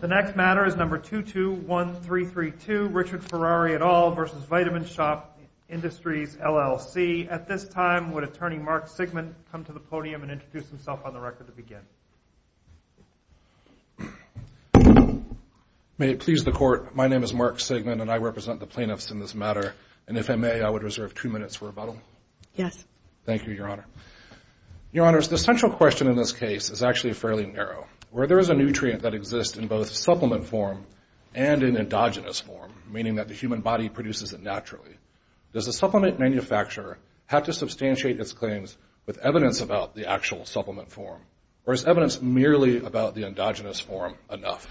The next matter is number 221332, Richard Ferrari et al. versus Vitamin Shoppe Industries LLC. At this time, would attorney Mark Sigmund come to the podium and introduce himself on the record to begin? May it please the court. My name is Mark Sigmund and I represent the plaintiffs in this matter. And if I may, I would reserve two minutes for rebuttal. Yes. Thank you, your honor. Your honors, the central question in this case is actually fairly narrow. Where there is a nutrient that exists in both supplement form and in endogenous form, meaning that the human body produces it naturally, does the supplement manufacturer have to substantiate its claims with evidence about the actual supplement form? Or is evidence merely about the endogenous form enough?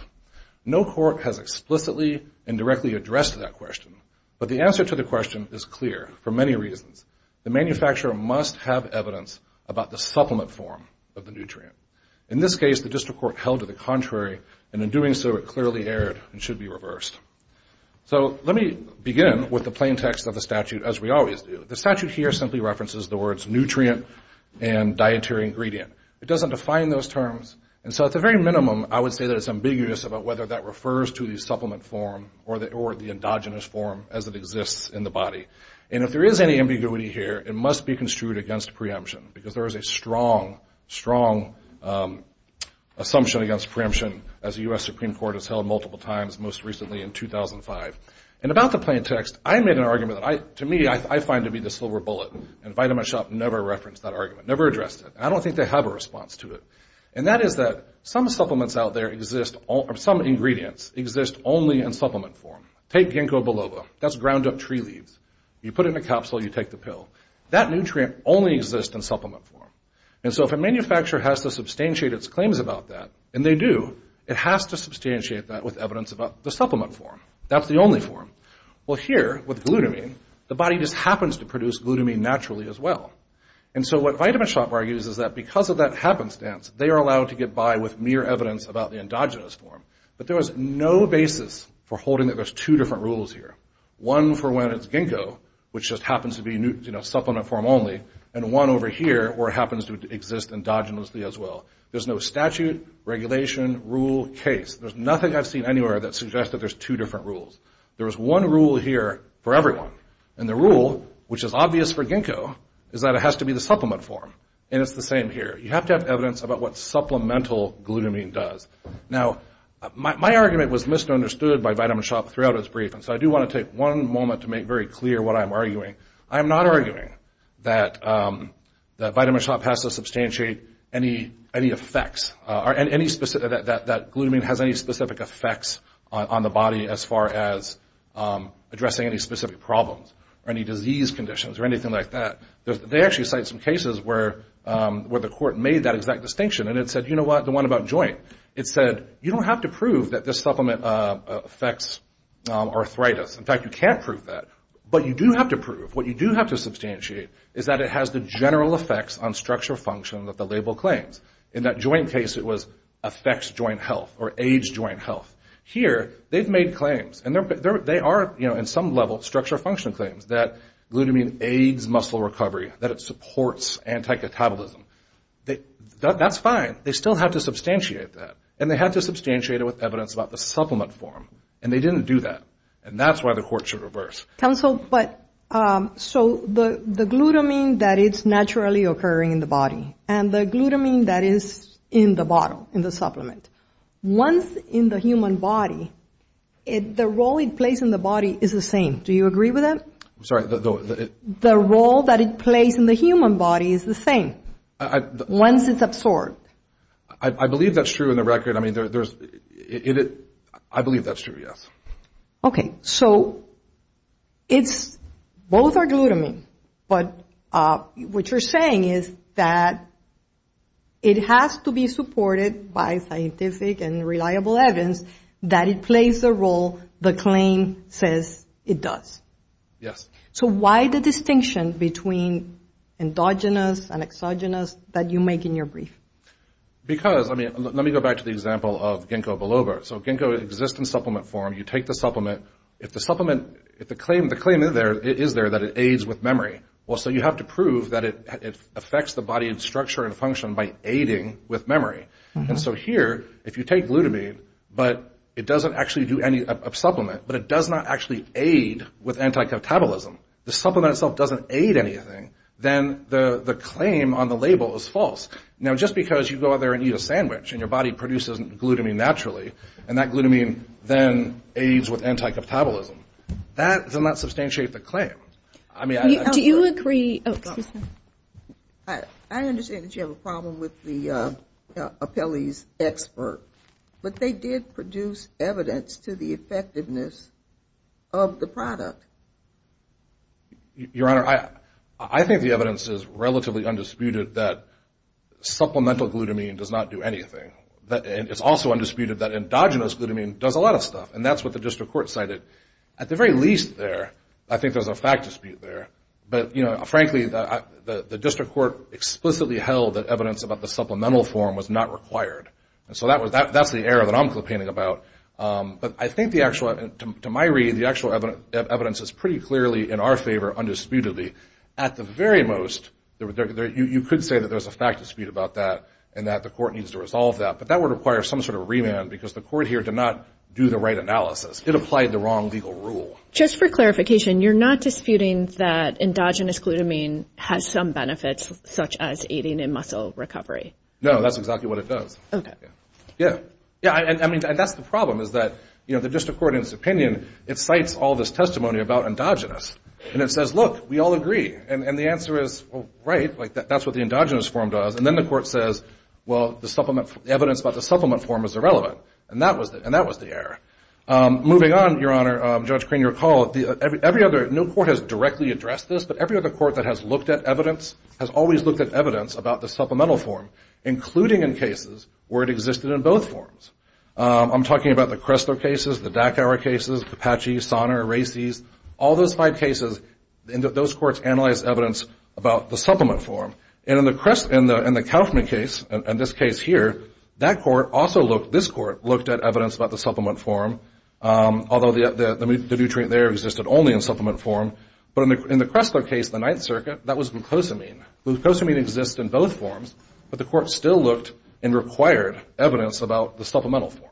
No court has explicitly and directly addressed that question, but the answer to the question is clear for many reasons. The manufacturer must have evidence about the supplement form of the nutrient. In this case, the district court held to the contrary, and in doing so, it clearly erred and should be reversed. So let me begin with the plain text of the statute as we always do. The statute here simply references the words nutrient and dietary ingredient. It doesn't define those terms. And so at the very minimum, I would say that it's ambiguous about whether that refers to the supplement form or the endogenous form as it exists in the body. And if there is any ambiguity here, it must be construed against preemption because there is a strong, strong assumption against preemption as the U.S. Supreme Court has held multiple times, most recently in 2005. And about the plain text, I made an argument that to me, I find to be the silver bullet, and Vitamin Shoppe never referenced that argument, never addressed it. And I don't think they have a response to it. And that is that some supplements out there exist, some ingredients exist only in supplement form. Take ginkgo biloba, that's ground up tree leaves. You put it in a capsule, you take the pill. That nutrient only exists in supplement form. And so if a manufacturer has to substantiate its claims about that, and they do, it has to substantiate that with evidence about the supplement form. That's the only form. Well here, with glutamine, the body just happens to produce glutamine naturally as well. And so what Vitamin Shoppe argues is that because of that happenstance, they are allowed to get by with mere evidence about the endogenous form. But there is no basis for holding that there's two different rules here. One for when it's ginkgo, which just happens to be supplement form only. And one over here, where it happens to exist endogenously as well. There's no statute, regulation, rule, case. There's nothing I've seen anywhere that suggests that there's two different rules. There is one rule here for everyone. And the rule, which is obvious for ginkgo, is that it has to be the supplement form. And it's the same here. You have to have evidence about what supplemental glutamine does. Now, my argument was misunderstood by Vitamin Shoppe throughout its brief. And so I do want to take one moment to make very clear what I'm arguing. I'm not arguing that Vitamin Shoppe has to substantiate any effects, or that glutamine has any specific effects on the body as far as addressing any specific problems or any disease conditions or anything like that. They actually cite some cases where the court made that exact distinction. And it said, you know what, the one about joint. It said, you don't have to prove that this supplement affects arthritis. In fact, you can't prove that. But you do have to prove, what you do have to substantiate, is that it has the general effects on structure function that the label claims. In that joint case, it was affects joint health, or aids joint health. Here, they've made claims. And they are, you know, in some level, structure function claims, that glutamine aids muscle recovery, that it supports anti-catabolism. That's fine. They still have to substantiate that. And they had to substantiate it with evidence about the supplement form. And they didn't do that. And that's why the court should reverse. But, so the glutamine, that it's naturally occurring in the body. And the glutamine that is in the bottle, in the supplement. Once in the human body, the role it plays in the body is the same. Do you agree with that? I'm sorry, though. The role that it plays in the human body is the same. Once it's absorbed. I believe that's true in the record. I mean, there's, I believe that's true, yes. Okay, so it's, both are glutamine. But what you're saying is that it has to be supported by scientific and reliable evidence that it plays the role the claim says it does. Yes. So why the distinction between endogenous and exogenous that you make in your brief? Because, I mean, let me go back to the example of Ginkgo biloba. So Ginkgo exists in supplement form. You take the supplement. If the supplement, if the claim is there, it is there that it aids with memory. Well, so you have to prove that it affects the body and structure and function by aiding with memory. And so here, if you take glutamine, but it doesn't actually do any, a supplement, but it does not actually aid with anticeptabolism, the supplement itself doesn't aid anything, then the claim on the label is false. Now, just because you go out there and eat a sandwich and your body produces glutamine naturally, and that glutamine then aids with anticeptabolism, that does not substantiate the claim. I mean, I... Do you agree... Oh, excuse me. I understand that you have a problem with the appellee's expert, but they did produce evidence to the effectiveness of the product. Your Honor, I think the evidence is relatively undisputed that supplemental glutamine does not do anything. And it's also undisputed that endogenous glutamine does a lot of stuff, and that's what the district court cited. At the very least there, I think there's a fact dispute there. But frankly, the district court explicitly held that evidence about the supplemental form was not required. And so that's the error that I'm complaining about. But I think the actual, to my read, the actual evidence is pretty clearly in our favor, undisputedly. At the very most, you could say that there's a fact dispute about that, and that the court needs to resolve that. But that would require some sort of remand, because the court here did not do the right analysis. It applied the wrong legal rule. Just for clarification, you're not disputing that endogenous glutamine has some benefits, such as aiding in muscle recovery? No, that's exactly what it does. Okay. Yeah. Yeah, I mean, that's the problem, is that the district court, in its opinion, it cites all this testimony about endogenous. And it says, look, we all agree. And the answer is, right, like that's what the endogenous form does. And then the court says, well, the evidence about the supplement form is irrelevant. And that was the error. Moving on, Your Honor, Judge Crane, your call, every other, no court has directly addressed this, but every other court that has looked at evidence has always looked at evidence about the supplemental form, including in cases where it existed in both forms. I'm talking about the Cresto cases, the Dacauer cases, the Apache, Sonner, Racy's, all those five cases, and those courts analyzed evidence about the supplement form. And in the Kaufman case, and this case here, that court also looked, this court looked at evidence about the supplement form, although the nutrient there existed only in supplement form. But in the Cresto case, the Ninth Circuit, that was glucosamine. Glucosamine exists in both forms, but the court still looked and required evidence about the supplemental form.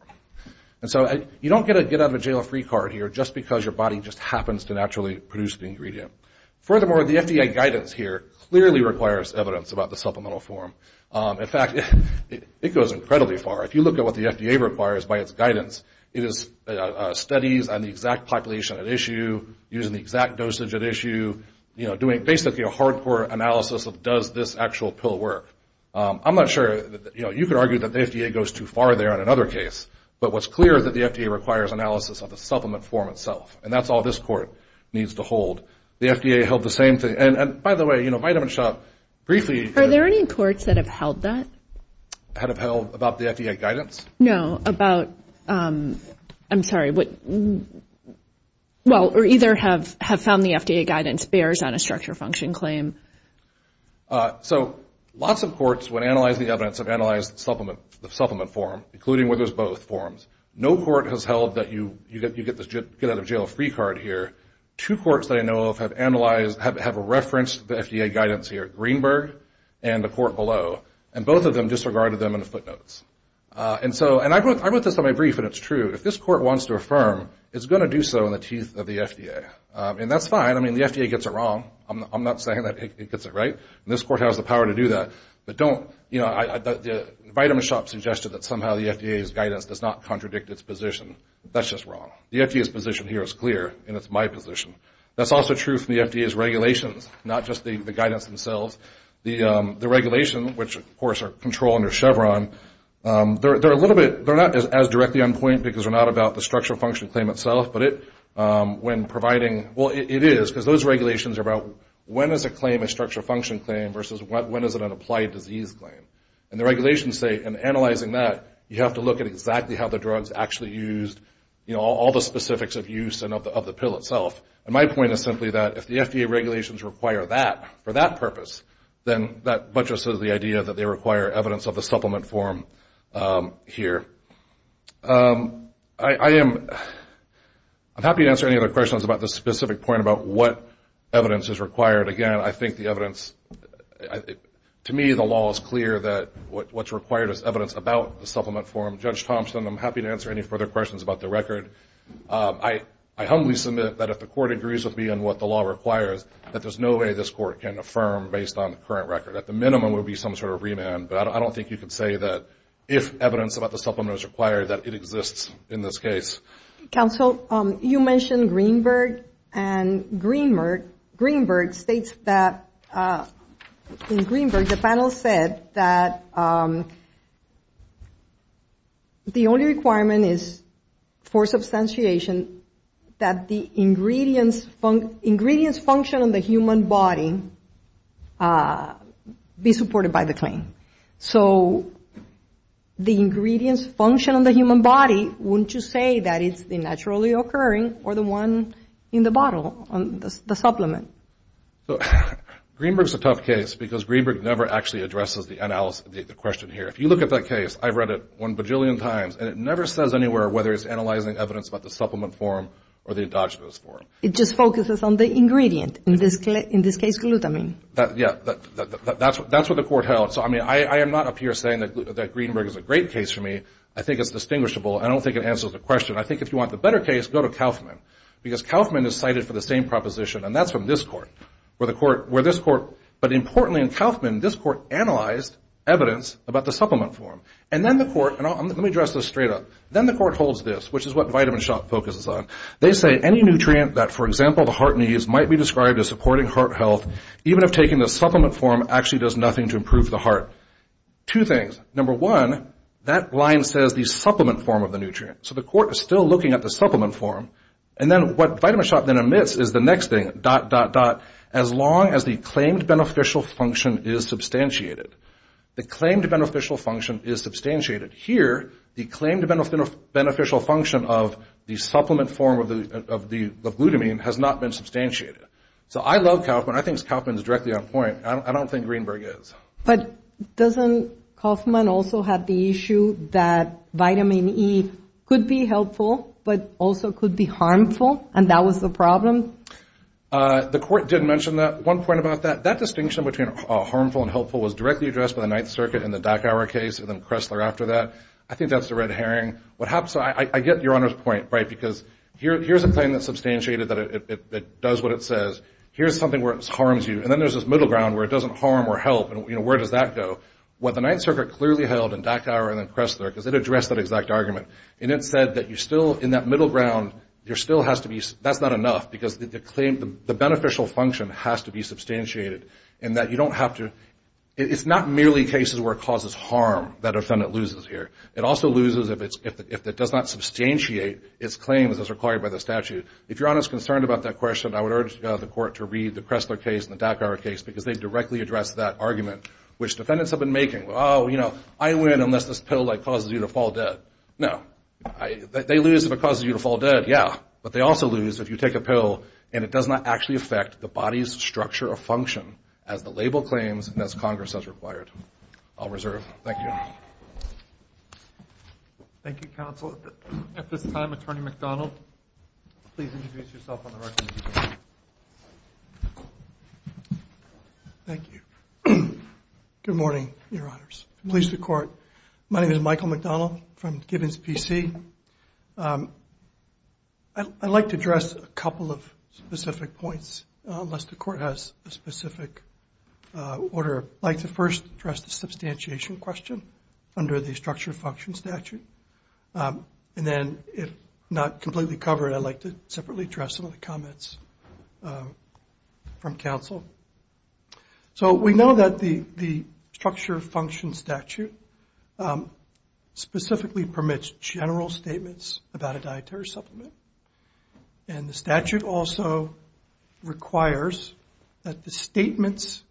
And so you don't get a get out of jail free card here just because your body just happens to naturally produce the ingredient. Furthermore, the FDA guidance here clearly requires evidence about the supplemental form. In fact, it goes incredibly far. If you look at what the FDA requires by its guidance, it is studies on the exact population at issue, using the exact dosage at issue, doing basically a hardcore analysis of does this actual pill work. I'm not sure, you could argue that the FDA goes too far there in another case, but what's clear is that the FDA requires analysis of the supplement form itself, and that's all this court needs to hold. The FDA held the same thing. And by the way, Vitamin Shoppe, briefly- Are there any courts that have held that? Had upheld about the FDA guidance? No, about, I'm sorry, well, or either have found the FDA guidance bears on a structure function claim. So lots of courts, when analyzing the evidence, have analyzed the supplement form, including where there's both forms. No court has held that you get this get out of jail free card here. Two courts that I know of have analyzed, have referenced the FDA guidance here, Greenberg and the court below, and both of them disregarded them in the footnotes. And so, and I wrote this on my brief, and it's true. If this court wants to affirm, it's gonna do so in the teeth of the FDA. And that's fine, I mean, the FDA gets it wrong. I'm not saying that it gets it right. And this court has the power to do that. But don't, you know, Vitamin Shoppe suggested that somehow the FDA's guidance does not contradict its position. That's just wrong. The FDA's position here is clear, and it's my position. That's also true for the FDA's regulations, not just the guidance themselves. The regulation, which of course, are controlled under Chevron, they're a little bit, they're not as directly on point, because they're not about the structural function claim itself, but it, when providing, well, it is, because those regulations are about when is a claim a structural function claim, versus when is it an applied disease claim? And the regulations say, in analyzing that, you have to look at exactly how the drugs actually used, you know, all the specifics of use and of the pill itself. And my point is simply that, if the FDA regulations require that, for that purpose, then that buttresses the idea that they require evidence of the supplement form here. I am, I'm happy to answer any other questions about this specific point, about what evidence is required. Again, I think the evidence, to me, the law is clear that what's required is evidence about the supplement form. Judge Thompson, I'm happy to answer any further questions about the record. I humbly submit that if the court agrees with me on what the law requires, that there's no way this court can affirm based on the current record. At the minimum, it would be some sort of remand, but I don't think you could say that, if evidence about the supplement is required, that it exists in this case. Council, you mentioned Greenberg, and Greenberg states that, in Greenberg, the panel said that the only requirement is, for substantiation, that the ingredients function on the human body be supported by the claim. So, the ingredients function on the human body, wouldn't you say that it's the naturally occurring, or the one in the bottle, the supplement? So, Greenberg's a tough case, because Greenberg never actually addresses the question here. If you look at that case, I've read it one bajillion times, and it never says anywhere whether it's analyzing evidence about the supplement form, or the endogenous form. It just focuses on the ingredient, in this case, glutamine. Yeah, that's what the court held. So, I mean, I am not up here saying that Greenberg is a great case for me. I think it's distinguishable. I don't think it answers the question. I think if you want the better case, go to Kauffman, because Kauffman is cited for the same proposition, and that's from this court, where this court, but importantly in Kauffman, this court analyzed evidence about the supplement form. And then the court, and let me address this straight up. Then the court holds this, which is what Vitamin Shoppe focuses on. They say, any nutrient that, for example, the heart needs, might be described as supporting heart health, even if taking the supplement form actually does nothing to improve the heart. Two things. Number one, that line says the supplement form of the nutrient. So, the court is still looking at the supplement form, and then what Vitamin Shoppe then admits is the next thing, dot, dot, dot, as long as the claimed beneficial function is substantiated. The claimed beneficial function is substantiated. Here, the claimed beneficial function of the supplement form of glutamine has not been substantiated. So, I love Kauffman. I think Kauffman's directly on point. I don't think Greenberg is. But doesn't Kauffman also have the issue that Vitamin E could be helpful, but also could be harmful, and that was the problem? The court did mention that. One point about that, that distinction between harmful and helpful was directly addressed by the Ninth Circuit in the Dachauer case, and then Kressler after that. I think that's the red herring. What happens, I get Your Honor's point, right, because here's a claim that's substantiated, that it does what it says. Here's something where it harms you, and then there's this middle ground where it doesn't harm or help, and where does that go? What the Ninth Circuit clearly held in Dachauer and then Kressler, because it addressed that exact argument, and it said that you still, in that middle ground, there still has to be, that's not enough, because the claim, the beneficial function has to be substantiated, and that you don't have to, it's not merely cases where it causes harm that a defendant loses here. It also loses if it does not substantiate its claims as required by the statute. If Your Honor's concerned about that question, I would urge the court to read the Kressler case and the Dachauer case, because they directly address that argument, which defendants have been making. Oh, you know, I win unless this pill causes you to fall dead. No, they lose if it causes you to fall dead, yeah, but they also lose if you take a pill and it does not actually affect the body's structure or function as the label claims and as Congress has required. I'll reserve. Thank you. Thank you, counsel. At this time, Attorney McDonald, please introduce yourself on the record. Thank you. Good morning, Your Honors, police and court. My name is Michael McDonald from Gibbons PC. I'd like to address a couple of specific points unless the court has a specific order. I'd like to first address the substantiation question under the structure function statute. And then if not completely covered, I'd like to separately address some of the comments from counsel. So we know that the structure function statute specifically permits general statements about a dietary supplement. And the statute also requires that the statements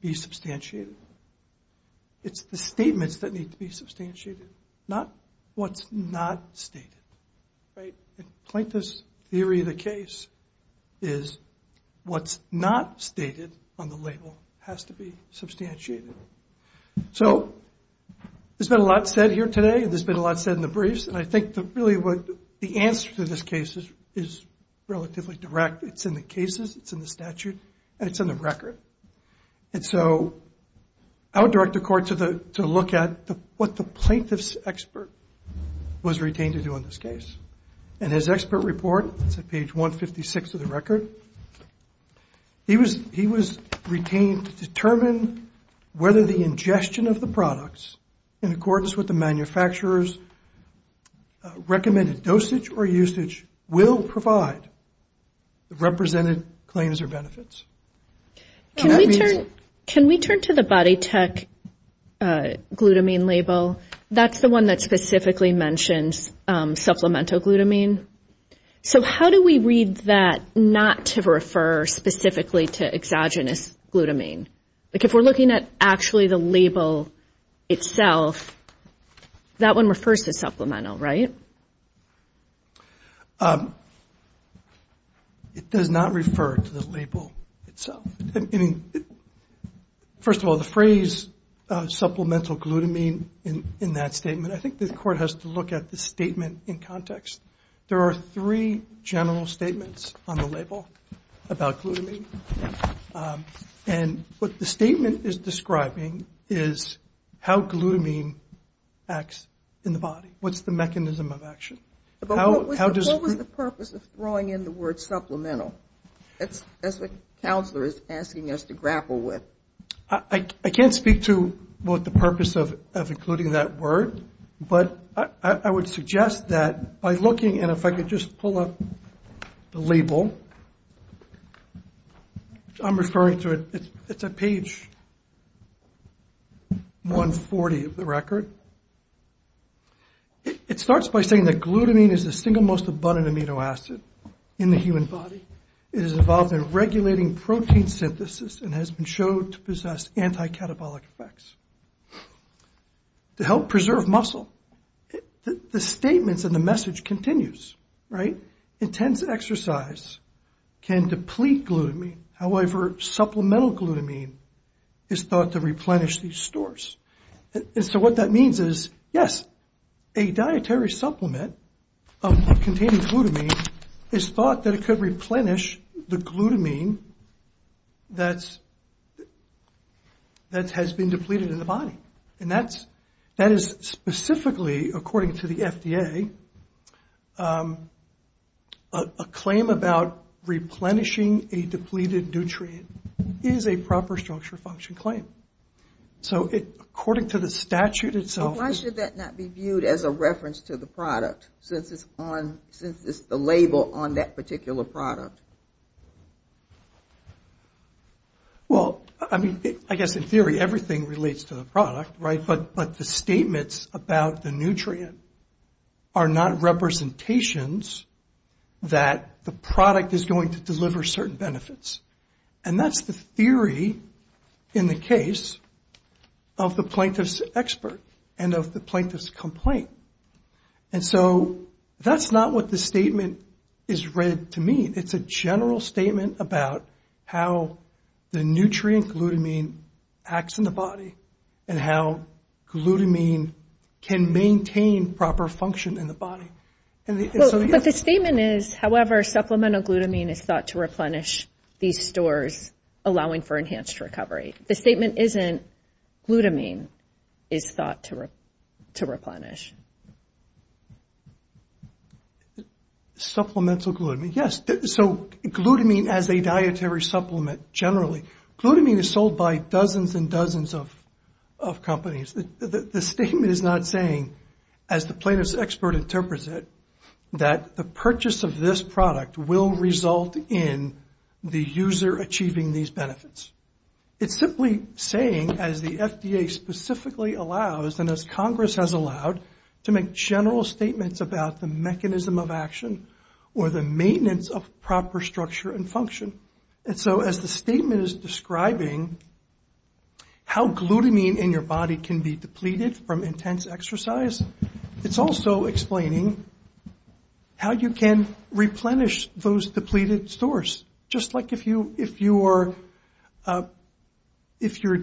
be substantiated. It's the statements that need to be substantiated, not what's not stated, right? In Plaintiff's theory of the case is what's not stated on the label has to be substantiated. So there's been a lot said here today, and there's been a lot said in the briefs. And I think that really what the answer to this case is relatively direct. It's in the cases, it's in the statute, and it's in the record. And so I would direct the court to look at what the plaintiff's expert was retained to do on this case. And his expert report, it's at page 156 of the record. He was retained to determine whether the ingestion of the products in accordance with the manufacturer's recommended dosage or usage will provide the represented claims or benefits. Can we turn to the Body Tech glutamine label? That's the one that specifically mentions supplemental glutamine. So how do we read that not to refer specifically to exogenous glutamine? Like if we're looking at actually the label itself, that one refers to supplemental, right? It does not refer to the label itself. First of all, the phrase supplemental glutamine in that statement, I think the court has to look at the statement in context. There are three general statements on the label about glutamine. And what the statement is describing is how glutamine acts in the body. What's the mechanism of action? How does- What was the purpose of throwing in the word supplemental? That's what counselor is asking us to grapple with. I can't speak to what the purpose of including that word, but I would suggest that by looking, and if I could just pull up the label, I'm referring to it, it's at page 140 of the record. It starts by saying that glutamine is the single most abundant amino acid in the human body. It is involved in regulating protein synthesis and has been showed to possess anti-catabolic effects. To help preserve muscle. The statements and the message continues, right? Intense exercise can deplete glutamine. However, supplemental glutamine is thought to replenish these stores. And so what that means is, yes, a dietary supplement containing glutamine is thought that it could replenish the glutamine that has been depleted in the body. And that is specifically, according to the FDA, a claim about replenishing a depleted nutrient is a proper structure function claim. So according to the statute itself- Why should that not be viewed as a reference to the product since it's the label on that particular product? Well, I mean, I guess in theory everything relates to the product, right? But the statements about the nutrient are not representations that the product is going to deliver certain benefits. And that's the theory in the case of the plaintiff's expert and of the plaintiff's complaint. And so that's not what the statement is read to mean. It's a general statement about how the nutrient glutamine acts in the body and how glutamine can maintain proper function in the body. But the statement is, however, supplemental glutamine is thought to replenish these stores allowing for enhanced recovery. The statement isn't glutamine is thought to replenish. Supplemental glutamine, yes. So glutamine as a dietary supplement, generally. Glutamine is sold by dozens and dozens of companies. The statement is not saying, as the plaintiff's expert interprets it, that the purchase of this product will result in the user achieving these benefits. It's simply saying, as the FDA specifically allows and as Congress has allowed, to make general statements about the mechanism of action or the maintenance of proper structure and function. And so as the statement is describing how glutamine in your body can be depleted from intense exercise, it's also explaining how you can replenish those depleted stores. Just like if you're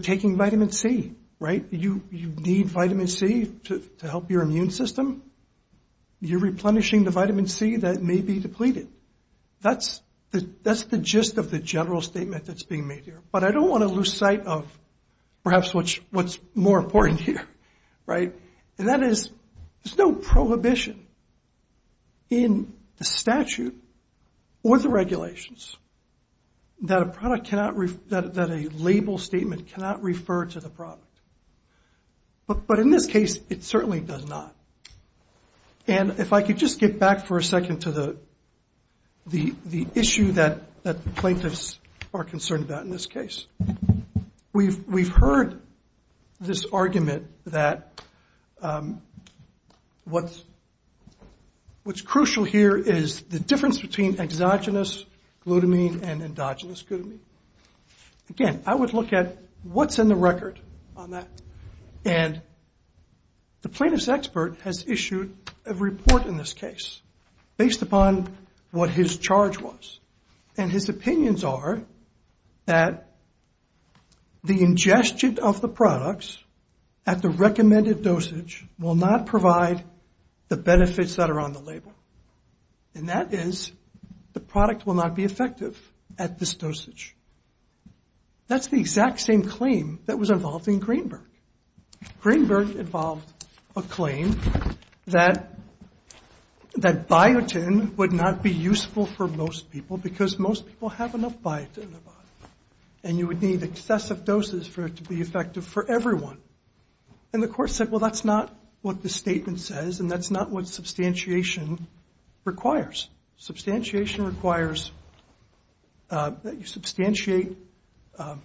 taking vitamin C, right? You need vitamin C to help your immune system. You're replenishing the vitamin C that may be depleted. That's the gist of the general statement that's being made here. But I don't want to lose sight of perhaps what's more important here, right? And that is, there's no prohibition in the statute or the regulations that a label statement cannot refer to the product. But in this case, it certainly does not. And if I could just get back for a second to the issue that the plaintiffs are concerned about in this case. We've heard this argument that what's crucial here is the difference between exogenous glutamine and endogenous glutamine. Again, I would look at what's in the record on that. And the plaintiff's expert has issued a report in this case based upon what his charge was. And his opinions are that the ingestion of the products at the recommended dosage will not provide the benefits that are on the label. And that is, the product will not be effective at this dosage. That's the exact same claim that was involved in Greenberg. Greenberg involved a claim that that biotin would not be useful for most people because most people have enough biotin in their body. And you would need excessive doses for it to be effective for everyone. And the court said, well, that's not what the statement says and that's not what substantiation requires. Substantiation requires that you substantiate the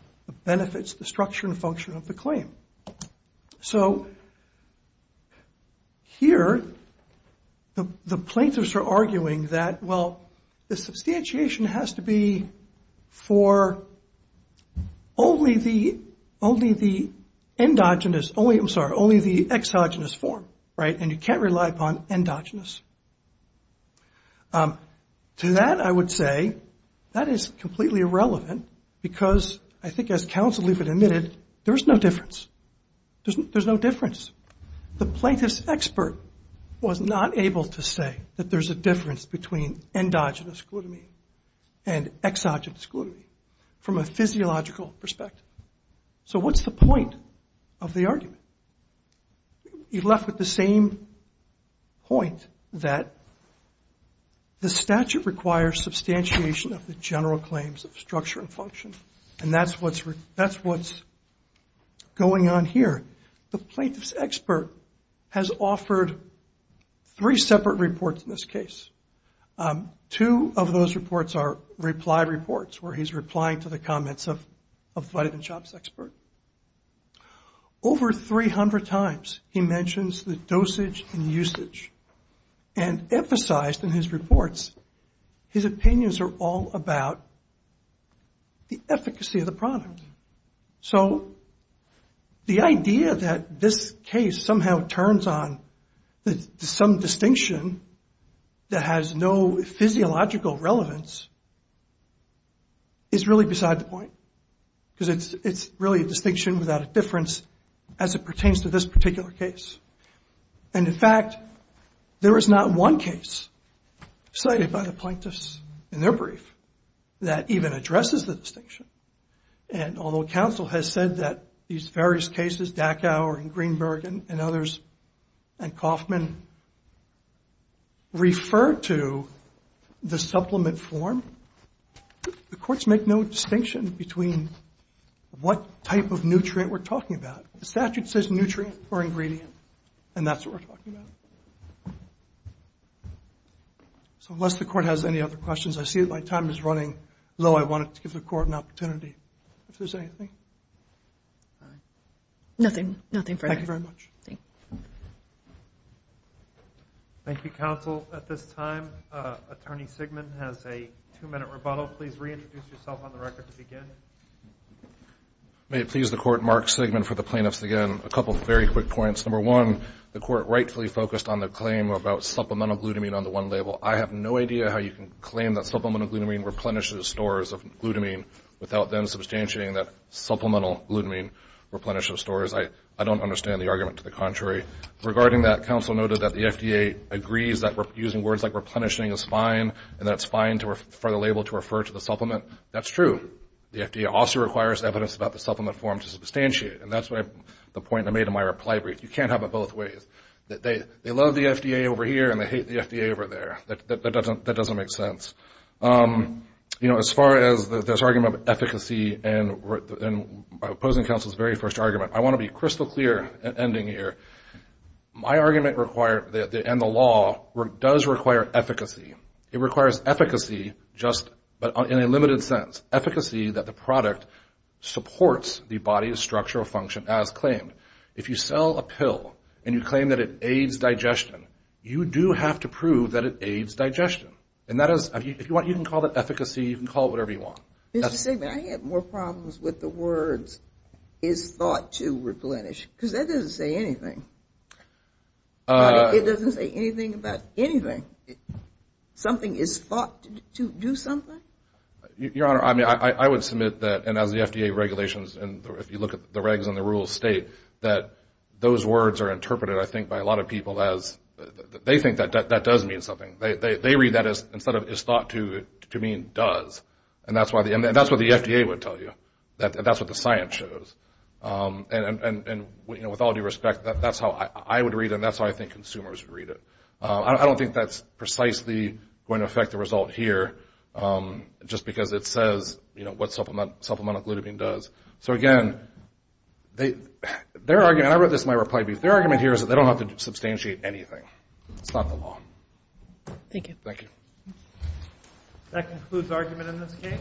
benefits, the structure and function of the claim. So, here, the plaintiffs are arguing that, well, the substantiation has to be for only the endogenous, I'm sorry, only the exogenous form. And you can't rely upon endogenous. To that, I would say, that is completely irrelevant because I think, as counsel Lieber admitted, there's no difference. There's no difference. The plaintiff's expert was not able to say that there's a difference between endogenous glutamine and exogenous glutamine from a physiological perspective. So, what's the point of the argument? You're left with the same point that the statute requires substantiation of the general claims of structure and function. And that's what's going on here. The plaintiff's expert has offered three separate reports in this case. Two of those reports are reply reports where he's replying to the comments of the vitamin shop's expert. Over 300 times, he mentions the dosage and usage and emphasized in his reports, his opinions are all about the efficacy of the product. So, the idea that this case somehow turns on some distinction that has no physiological relevance is really beside the point. Because it's really a distinction without a difference as it pertains to this particular case. And in fact, there is not one case cited by the plaintiffs in their brief that even addresses the distinction. And although counsel has said that these various cases, Dachau and Greenberg and others and Kaufman refer to the supplement form, the courts make no distinction between what type of nutrient we're talking about. The statute says nutrient or ingredient, and that's what we're talking about. So, unless the court has any other questions, I see that my time is running low. I wanted to give the court an opportunity. If there's anything. Nothing, nothing further. Thank you very much. Thank you. Thank you, counsel. At this time, Attorney Sigmund has a two minute rebuttal. Please reintroduce yourself on the record to begin. May it please the court, Mark Sigmund for the plaintiffs again. A couple of very quick points. Number one, the court rightfully focused on the claim about supplemental glutamine on the one label. I have no idea how you can claim that supplemental glutamine replenishes stores of glutamine without them substantiating that supplemental glutamine replenishes stores. I don't understand the argument to the contrary. Regarding that, counsel noted that the FDA agrees that using words like replenishing is fine, and that it's fine for the label to refer to the supplement. That's true. The FDA also requires evidence about the supplement form to substantiate, and that's the point I made in my reply brief. You can't have it both ways. They love the FDA over here, and they hate the FDA over there. That doesn't make sense. As far as this argument of efficacy and opposing counsel's very first argument, I want to be crystal clear ending here. My argument and the law does require efficacy. It requires efficacy, but in a limited sense. Efficacy that the product supports the body's structural function as claimed. If you sell a pill, and you claim that it aids digestion, you do have to prove that it aids digestion, and that is, if you want, you can call it efficacy. You can call it whatever you want. Mr. Sigmund, I have more problems with the words is thought to replenish, because that doesn't say anything. It doesn't say anything about anything. Something is thought to do something? Your Honor, I mean, I would submit that, and as the FDA regulations, and if you look at the regs and the rules state, that those words are interpreted, I think, by a lot of people as, they think that that does mean something. They read that as, instead of is thought to mean does, and that's what the FDA would tell you. That's what the science shows. With all due respect, that's how I would read it, and that's how I think consumers would read it. I don't think that's precisely going to affect the result here, just because it says what supplemental glutamine does. So again, their argument, I wrote this in my reply brief, their argument here is that they don't have to substantiate anything. It's not the law. Thank you. Thank you. That concludes argument in this case.